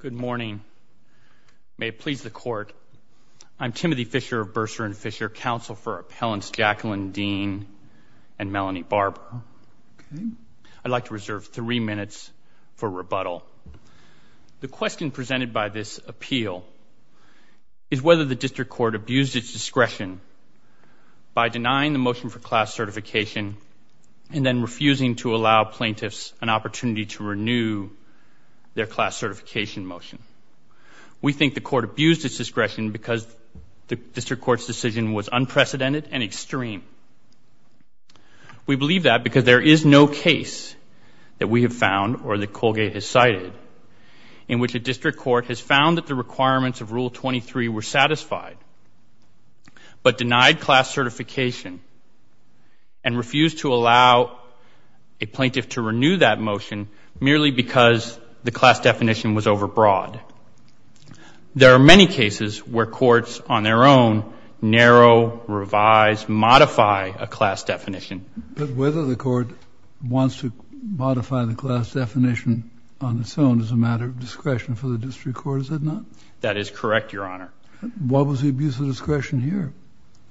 Good morning. May it please the Court, I'm Timothy Fisher of Bursar and Fisher, counsel for Appellants Jacqueline Dean and Melanie Barber. I'd like to reserve three minutes for rebuttal. The question presented by this appeal is whether the District Court abused its discretion by denying the motion for class certification and then refusing to allow plaintiffs an opportunity to renew their class certification motion. We think the Court abused its discretion because the District Court's decision was unprecedented and extreme. We believe that because there is no case that we have found or that Colgate has cited in which a District Court has found that the requirements of Rule 23 were satisfied but merely because the class definition was overbroad. There are many cases where courts on their own narrow, revise, modify a class definition. But whether the Court wants to modify the class definition on its own is a matter of discretion for the District Court, is it not? That is correct, Your Honor. What was the abuse of discretion here?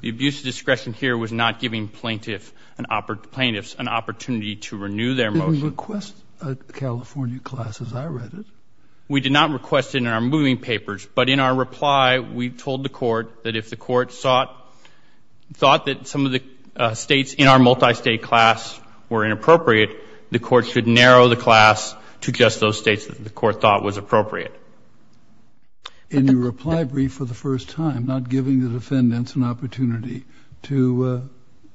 The abuse of discretion here was not giving plaintiffs an opportunity to renew their motion. We didn't request a California class as I read it. We did not request it in our moving papers. But in our reply, we told the Court that if the Court thought that some of the states in our multi-state class were inappropriate, the Court should narrow the class to just those states that the Court thought was appropriate. In your reply brief for the first time, not giving the defendants an opportunity to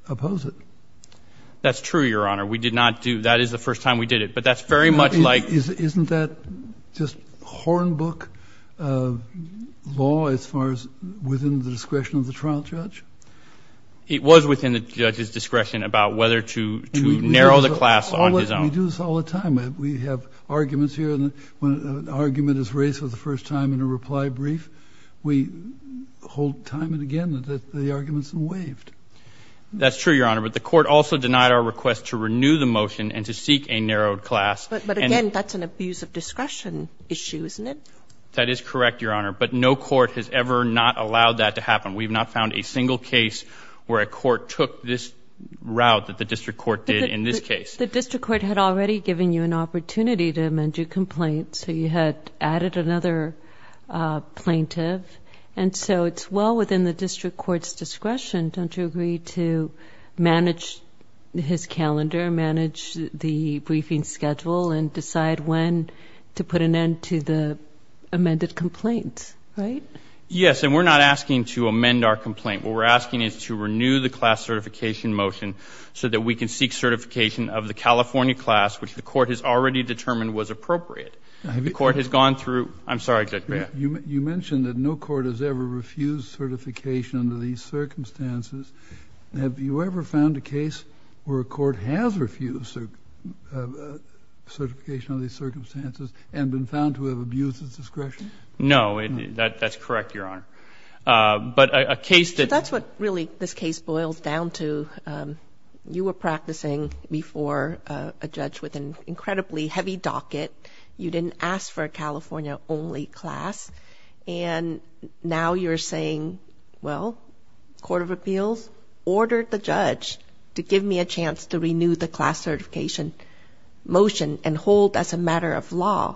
oppose it. That's true, Your Honor. We did not do that. That is the first time we did it. But that's very much like... Isn't that just hornbook law as far as within the discretion of the trial judge? It was within the judge's discretion about whether to narrow the class on his own. We do this all the time. We have arguments here. When an argument is raised for the first time in a reply brief, we hold time and again that the argument is waived. That's true, Your Honor. But the Court also denied our request to renew the motion and to seek a narrowed class. But again, that's an abuse of discretion issue, isn't it? That is correct, Your Honor. But no court has ever not allowed that to happen. We have not found a single case where a court took this route that the district court did in this case. But the district court had already given you an opportunity to amend your complaint, so you had added another plaintiff. And so it's well within the district court's discretion. Don't you agree to manage his calendar, manage the briefing schedule, and decide when to put an end to the amended complaint, right? Yes. And we're not asking to amend our complaint. What we're asking is to renew the class certification motion so that we can seek certification of the California class, which the Court has already determined was appropriate. The Court has gone through—I'm sorry, Judge Baird. You mentioned that no court has ever refused certification under these circumstances. Have you ever found a case where a court has refused certification under these circumstances and been found to have abused its discretion? No. That's correct, Your Honor. But a case that— That's what really this case boils down to. You were practicing before a judge with an incredibly heavy docket. You didn't ask for a California-only class, and now you're saying, well, Court of Appeals ordered the judge to give me a chance to renew the class certification motion and hold as a matter of law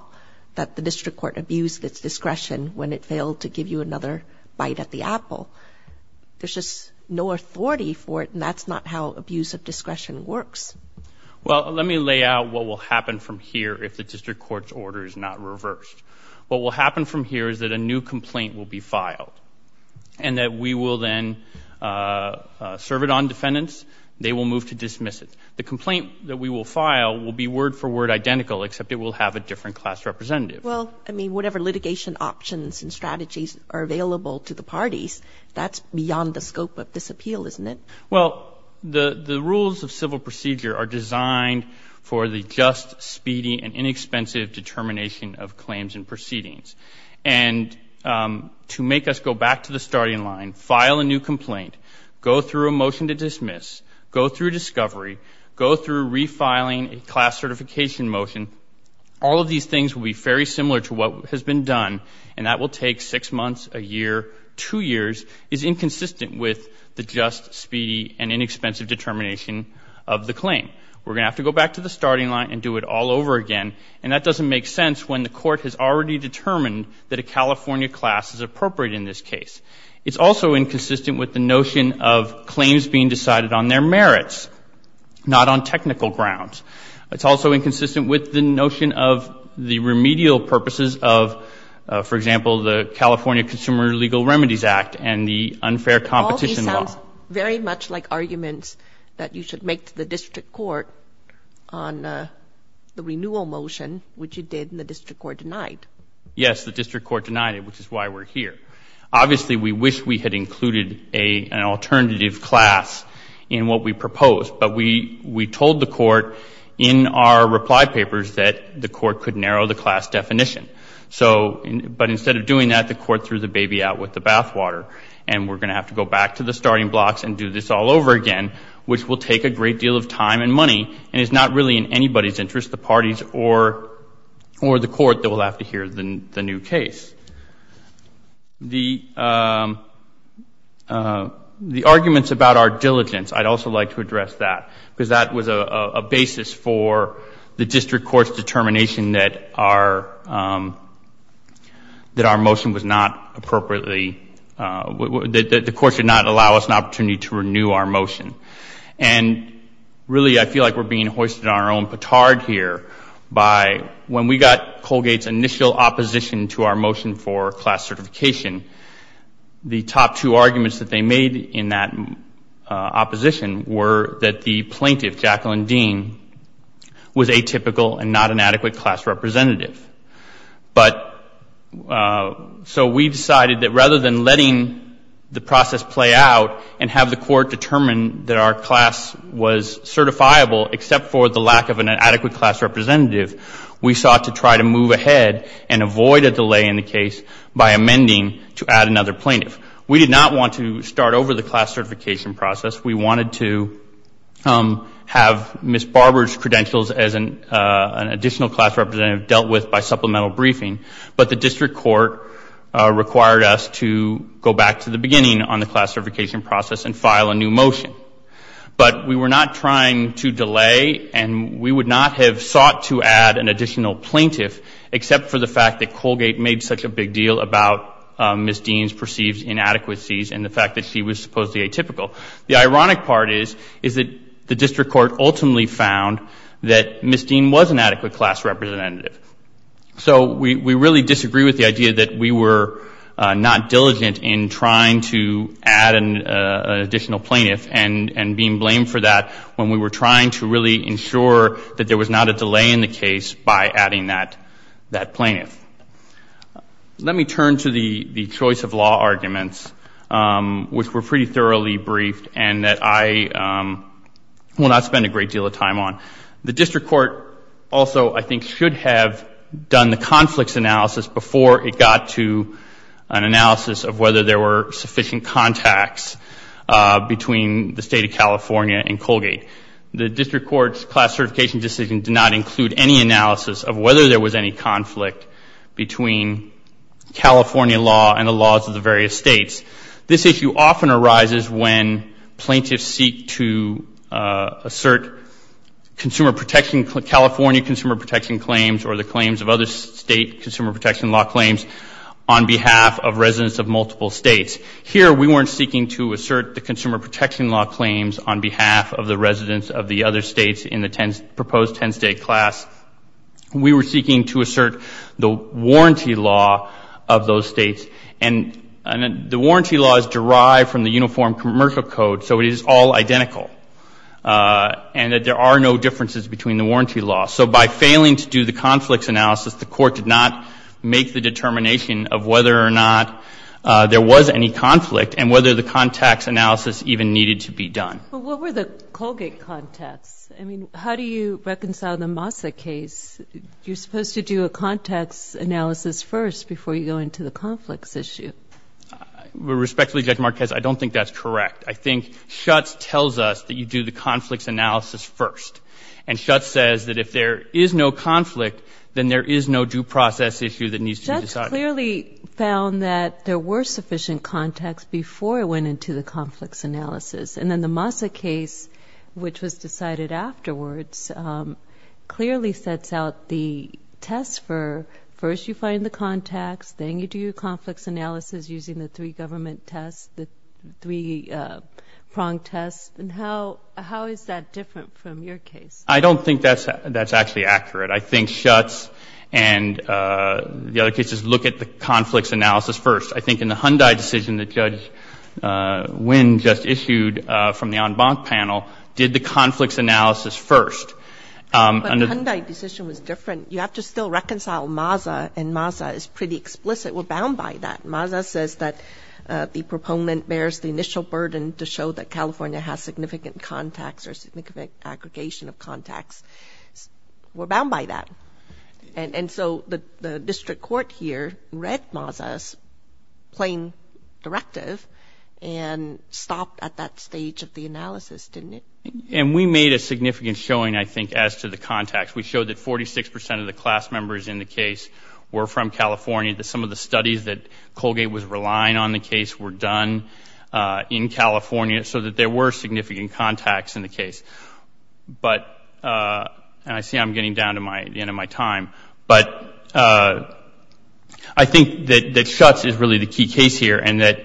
that the district court abused its discretion when it failed to give you another bite at the apple. There's just no authority for it, and that's not how abuse of discretion works. Well, let me lay out what will happen from here if the district court's order is not reversed. What will happen from here is that a new complaint will be filed, and that we will then serve it on defendants. They will move to dismiss it. The complaint that we will file will be word-for-word identical, except it will have a different class representative. Well, I mean, whatever litigation options and strategies are available to the parties, that's beyond the scope of this appeal, isn't it? Well, the rules of civil procedure are designed for the just, speedy, and inexpensive determination of claims and proceedings. And to make us go back to the starting line, file a new complaint, go through a motion to dismiss, go through discovery, go through refiling a class certification motion, all of these things will be very similar to what has been done, and that will take six months, a year, two years, is inconsistent with the just, speedy, and inexpensive determination of the claim. We're going to have to go back to the starting line and do it all over again, and that doesn't make sense when the court has already determined that a California class is appropriate in this case. It's also inconsistent with the notion of claims being decided on their merits, not on technical grounds. It's also inconsistent with the notion of the remedial purposes of, for example, the California Consumer Legal Remedies Act and the unfair competition law. All these sounds very much like arguments that you should make to the district court on the renewal motion, which you did and the district court denied. Yes, the district court denied it, which is why we're here. Obviously, we wish we had included an alternative class in what we proposed, but we told the court in our reply papers that the court could narrow the class definition. So, but instead of doing that, the court threw the baby out with the bathwater, and we're going to have to go back to the starting blocks and do this all over again, which will take a great deal of time and money and is not really in anybody's interest, the party's or the court that will have to hear the new case. The arguments about our diligence, I'd also like to address that, because that was a basis for the district court's determination that our motion was not appropriately, that the court should not allow us an opportunity to renew our motion. And really, I feel like we're being hoisted on our own petard here by when we got Colgate's initial opposition to our motion for class certification, the top two arguments that they made in that opposition were that the plaintiff, Jacqueline Dean, was atypical and not an adequate class representative. But so we decided that rather than letting the process play out and have the court determine that our class was certifiable except for the lack of an adequate class representative, we sought to try to move ahead and avoid a delay in the case by amending to add another plaintiff. We did not want to start over the class certification process. We wanted to have Ms. Barber's credentials as an additional class representative dealt with by supplemental briefing. But the district court required us to go back to the beginning on the class certification process and file a new motion. But we were not trying to delay and we would not have sought to add an additional plaintiff except for the fact that Colgate made such a big deal about Ms. Dean's perceived inadequacies and the fact that she was supposedly atypical. The ironic part is that the district court ultimately found that Ms. Dean was an adequate class representative. So we really disagree with the idea that we were not diligent in trying to add an additional plaintiff and being blamed for that when we were trying to really ensure that there was not a delay in the case by adding that plaintiff. Let me turn to the choice of law arguments, which were pretty thoroughly briefed and that I will not spend a great deal of time on. The district court also, I think, should have done the conflicts analysis before it got to an analysis of whether there were sufficient contacts between the state of California and Colgate. The district court's class certification decision did not include any analysis of whether there was any conflict between California law and the laws of the various states. This issue often arises when plaintiffs seek to assert California consumer protection claims or the claims of other state consumer protection law claims on behalf of residents of multiple states. Here we weren't seeking to assert the consumer protection law claims on behalf of the residents of the other states in the proposed 10-state class. We were seeking to assert the warranty law of those states, and the warranty law is derived from the Uniform Commercial Code, so it is all identical, and that there are no differences between the warranty laws. So by failing to do the conflicts analysis, the court did not make the determination of whether or not there was any conflict and whether the contacts analysis even needed to be done. But what were the Colgate contacts? I mean, how do you reconcile the Massa case? You're supposed to do a contacts analysis first before you go into the conflicts issue. Respectfully, Judge Marquez, I don't think that's correct. I think Schutz tells us that you do the conflicts analysis first. And Schutz says that if there is no conflict, then there is no due process issue that needs to be decided. But he clearly found that there were sufficient contacts before it went into the conflicts analysis. And then the Massa case, which was decided afterwards, clearly sets out the test for first you find the contacts, then you do your conflicts analysis using the three-government test, the three-pronged test, and how is that different from your case? I don't think that's actually accurate. I think Schutz and the other cases look at the conflicts analysis first. I think in the Hyundai decision that Judge Nguyen just issued from the en banc panel did the conflicts analysis first. But the Hyundai decision was different. You have to still reconcile Massa, and Massa is pretty explicit. We're bound by that. Massa says that the proponent bears the initial burden to show that California has significant contacts or significant aggregation of contacts. We're bound by that. And so the district court here read Massa's plain directive and stopped at that stage of the analysis, didn't it? And we made a significant showing, I think, as to the contacts. We showed that 46 percent of the class members in the case were from California, that some of the studies that Colgate was relying on the case were done in California, so that there were significant contacts in the case. But, and I see I'm getting down to the end of my time, but I think that Schutz is really the key case here and that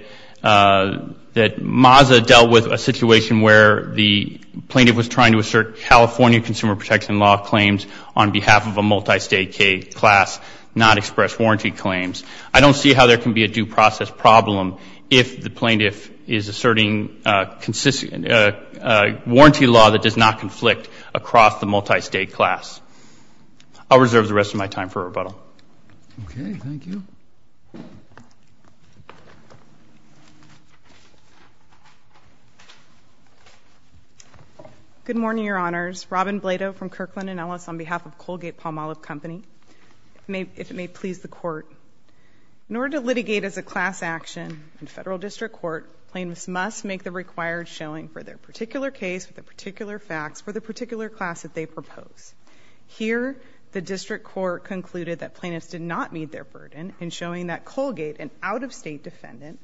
Massa dealt with a situation where the plaintiff was trying to assert California consumer protection law claims on behalf of a multi-state K class not expressed warranty claims. I don't see how there can be a due process problem if the plaintiff is asserting warranty law that does not conflict across the multi-state class. I'll reserve the rest of my time for rebuttal. Okay, thank you. Good morning, Your Honors. Robin Blato from Kirkland & Ellis on behalf of Colgate Palmolive Company, if it may please the Court. In order to litigate as a class action in federal district court, plaintiffs must make the required showing for their particular case, for the particular facts, for the particular class that they propose. Here the district court concluded that plaintiffs did not meet their burden in showing that Colgate, an out-of-state defendant,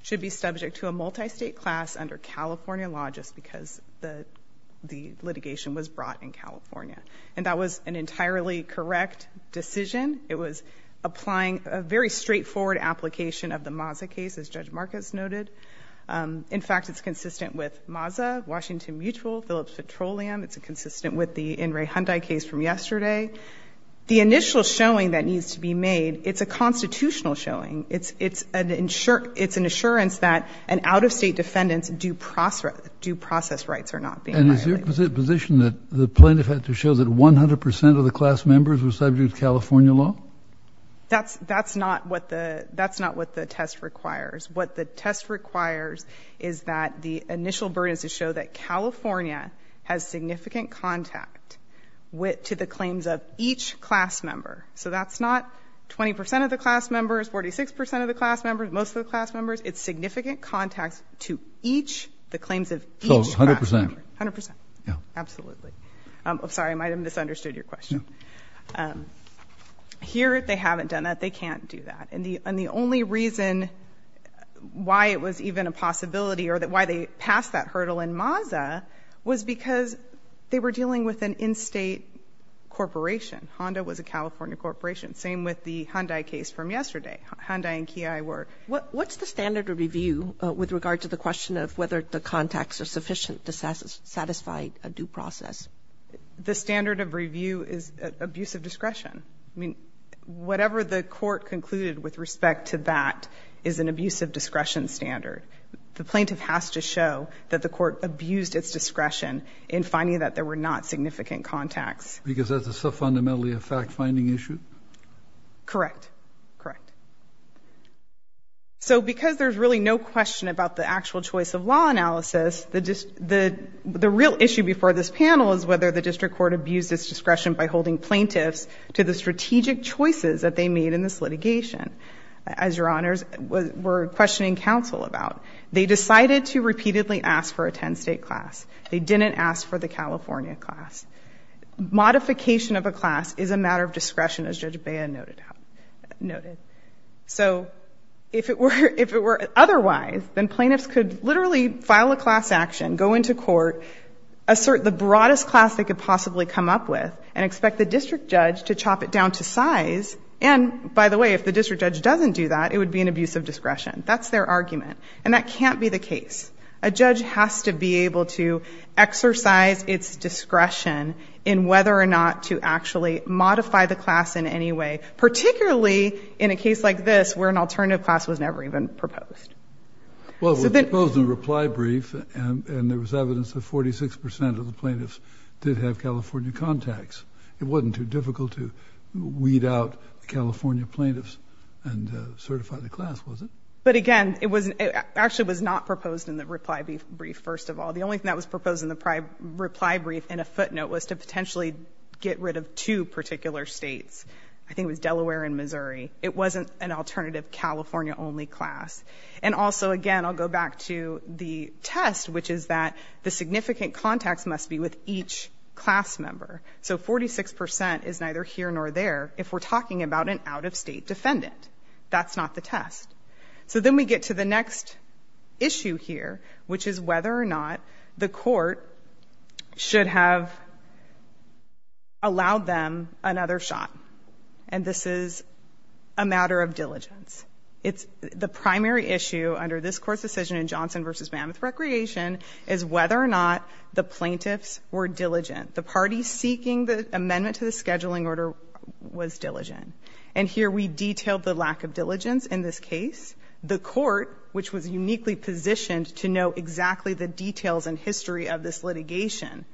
should be subject to a multi-state class under California law just because the litigation was brought in California. And that was an entirely correct decision. It was applying a very straightforward application of the Massa case, as Judge Marcus noted. In fact, it's consistent with Massa, Washington Mutual, Phillips Petroleum, it's consistent with the In re Hyundai case from yesterday. The initial showing that needs to be made, it's a constitutional showing. It's an assurance that an out-of-state defendant's due process rights are not being violated. And is your position that the plaintiff had to show that 100 percent of the class members were subject to California law? That's not what the test requires. What the test requires is that the initial burden is to show that California has significant contact to the claims of each class member. So that's not 20 percent of the class members, 46 percent of the class members, most of the class members. It's significant contacts to each, the claims of each class member. So 100 percent? 100 percent. Yeah. Absolutely. I'm sorry, I might have misunderstood your question. Here they haven't done that. They can't do that. And the only reason why it was even a possibility or why they passed that hurdle in Maza was because they were dealing with an in-state corporation. Honda was a California corporation. Same with the Hyundai case from yesterday. Hyundai and Kia were. What's the standard of review with regard to the question of whether the contacts are sufficient to satisfy a due process? The standard of review is abuse of discretion. I mean, whatever the court concluded with respect to that is an abuse of discretion standard. The plaintiff has to show that the court abused its discretion in finding that there were not significant contacts. Because that's a self-fundamentally fact-finding issue? Correct. Correct. So, because there's really no question about the actual choice of law analysis, the real issue before this panel is whether the district court abused its discretion by holding plaintiffs to the strategic choices that they made in this litigation. As Your Honors, we're questioning counsel about. They decided to repeatedly ask for a 10-state class. They didn't ask for the California class. Modification of a class is a matter of discretion, as Judge Bea noted. So, if it were otherwise, then plaintiffs could literally file a class action, go into court, assert the broadest class they could possibly come up with, and expect the district judge to chop it down to size. And by the way, if the district judge doesn't do that, it would be an abuse of discretion. That's their argument. And that can't be the case. A judge has to be able to exercise its discretion in whether or not to actually modify the class in any way, particularly in a case like this, where an alternative class was never even proposed. Well, it was a reply brief, and there was evidence that 46 percent of the plaintiffs did have California contacts. It wasn't too difficult to weed out the California plaintiffs and certify the class, was it? But again, it actually was not proposed in the reply brief, first of all. The only thing that was proposed in the reply brief in a footnote was to potentially get rid of two particular states. I think it was Delaware and Missouri. It wasn't an alternative California-only class. And also, again, I'll go back to the test, which is that the significant contacts must be with each class member. So 46 percent is neither here nor there if we're talking about an out-of-state defendant. That's not the test. So then we get to the next issue here, which is whether or not the court should have allowed them another shot. And this is a matter of diligence. The primary issue under this Court's decision in Johnson v. Mammoth Recreation is whether or not the plaintiffs were diligent. The party seeking the amendment to the scheduling order was diligent. And here we detailed the lack of diligence in this case. The court, which was uniquely positioned to know exactly the details and history of this litigation,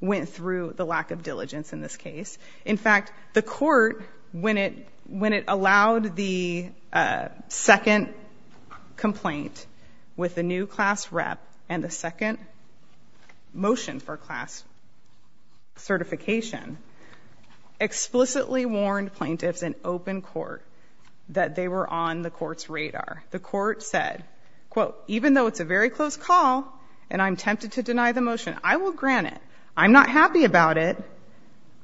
went through the lack of diligence in this case. In fact, the court, when it allowed the second complaint with the new class rep and the second motion for class certification, explicitly warned plaintiffs in open court that they were on the court's radar. The court said, quote, even though it's a very close call and I'm tempted to deny the motion, I will grant it. I'm not happy about it.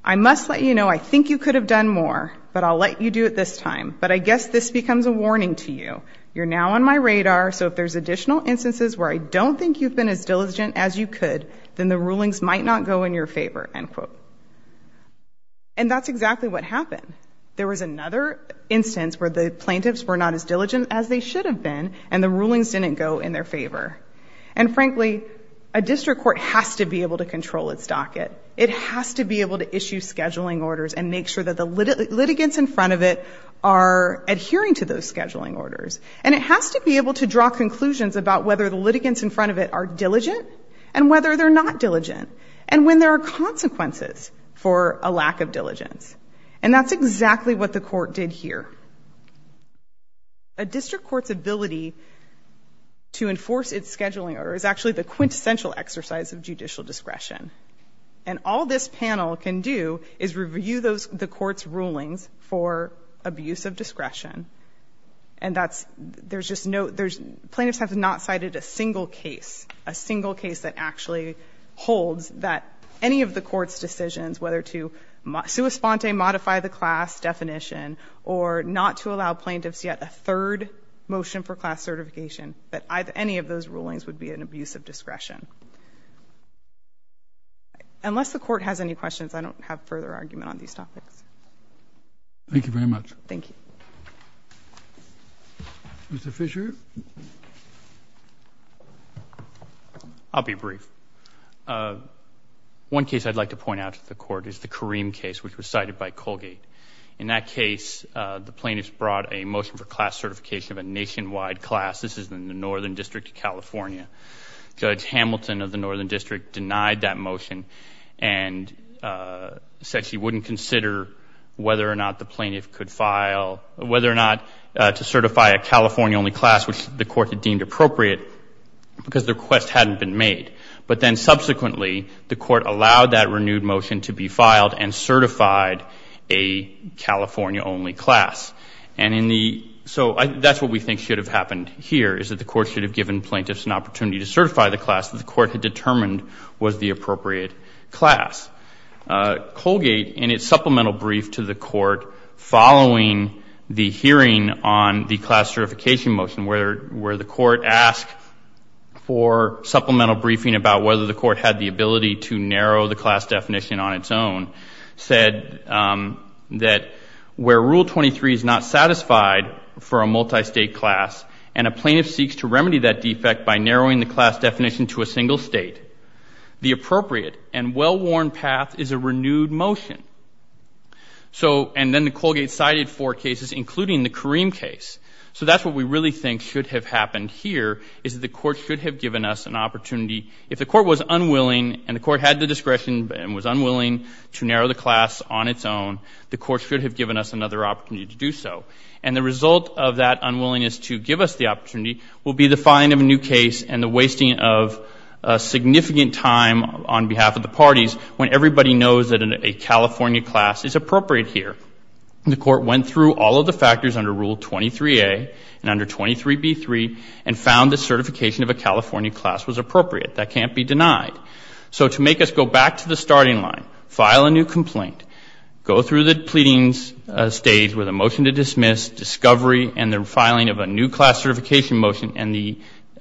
I must let you know I think you could have done more, but I'll let you do it this time. But I guess this becomes a warning to you. You're now on my radar, so if there's additional instances where I don't think you've been as diligent as you could, then the rulings might not go in your favor, end quote. And that's exactly what happened. There was another instance where the plaintiffs were not as diligent as they should have been and the rulings didn't go in their favor. And frankly, a district court has to be able to control its docket. It has to be able to issue scheduling orders and make sure that the litigants in front of it are adhering to those scheduling orders. And it has to be able to draw conclusions about whether the litigants in front of it are diligent and whether they're not diligent, and when there are consequences for a lack of diligence. And that's exactly what the court did here. A district court's ability to enforce its scheduling order is actually the quintessential exercise of judicial discretion. And all this panel can do is review the court's rulings for abuse of discretion. And plaintiffs have not cited a single case, a single case that actually holds that any of the court's decisions, whether to sua sponte, modify the class definition, or not to allow plaintiffs yet a third motion for class certification, that any of those rulings would be an abuse of discretion. Unless the court has any questions, I don't have further argument on these topics. Thank you very much. Thank you. Mr. Fisher? I'll be brief. One case I'd like to point out to the court is the Kareem case, which was cited by Colgate. In that case, the plaintiffs brought a motion for class certification of a nationwide class. This is in the Northern District of California. Judge Hamilton of the Northern District denied that motion and said she wouldn't consider whether or not the plaintiff could file, whether or not to certify a California-only class, which the court had deemed appropriate because the request hadn't been made. But then subsequently, the court allowed that renewed motion to be filed and certified a California-only class. And so that's what we think should have happened here, is that the court should have given plaintiffs an opportunity to certify the class that the court had determined was the appropriate class. Colgate, in its supplemental brief to the court following the hearing on the class certification motion, where the court asked for supplemental briefing about whether the court had the ability to narrow the class definition on its own, said that where Rule 23 is not satisfied for a multi-state class and a plaintiff seeks to remedy that defect by narrowing the class path is a renewed motion. So and then Colgate cited four cases, including the Kareem case. So that's what we really think should have happened here, is that the court should have given us an opportunity. If the court was unwilling and the court had the discretion and was unwilling to narrow the class on its own, the court should have given us another opportunity to do so. And the result of that unwillingness to give us the opportunity will be the filing of a new case and the wasting of significant time on behalf of the parties when everybody knows that a California class is appropriate here. The court went through all of the factors under Rule 23A and under 23B3 and found the certification of a California class was appropriate. That can't be denied. So to make us go back to the starting line, file a new complaint, go through the pleadings stage with a motion to dismiss, discovery, and the filing of a new class certification motion. And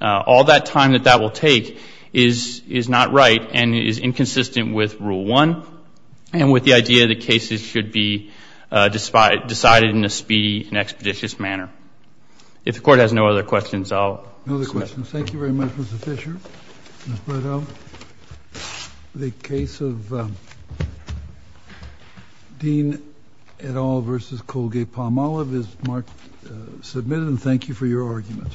all that time that that will take is not right and is inconsistent with Rule 1 and with the idea that cases should be decided in a speedy and expeditious manner. If the court has no other questions, I'll stop. No other questions. Thank you very much, Mr. Fisher. Ms. Bledsoe. The case of Dean et al. v. Colgate-Palmolive is marked submitted, and thank you for your arguments.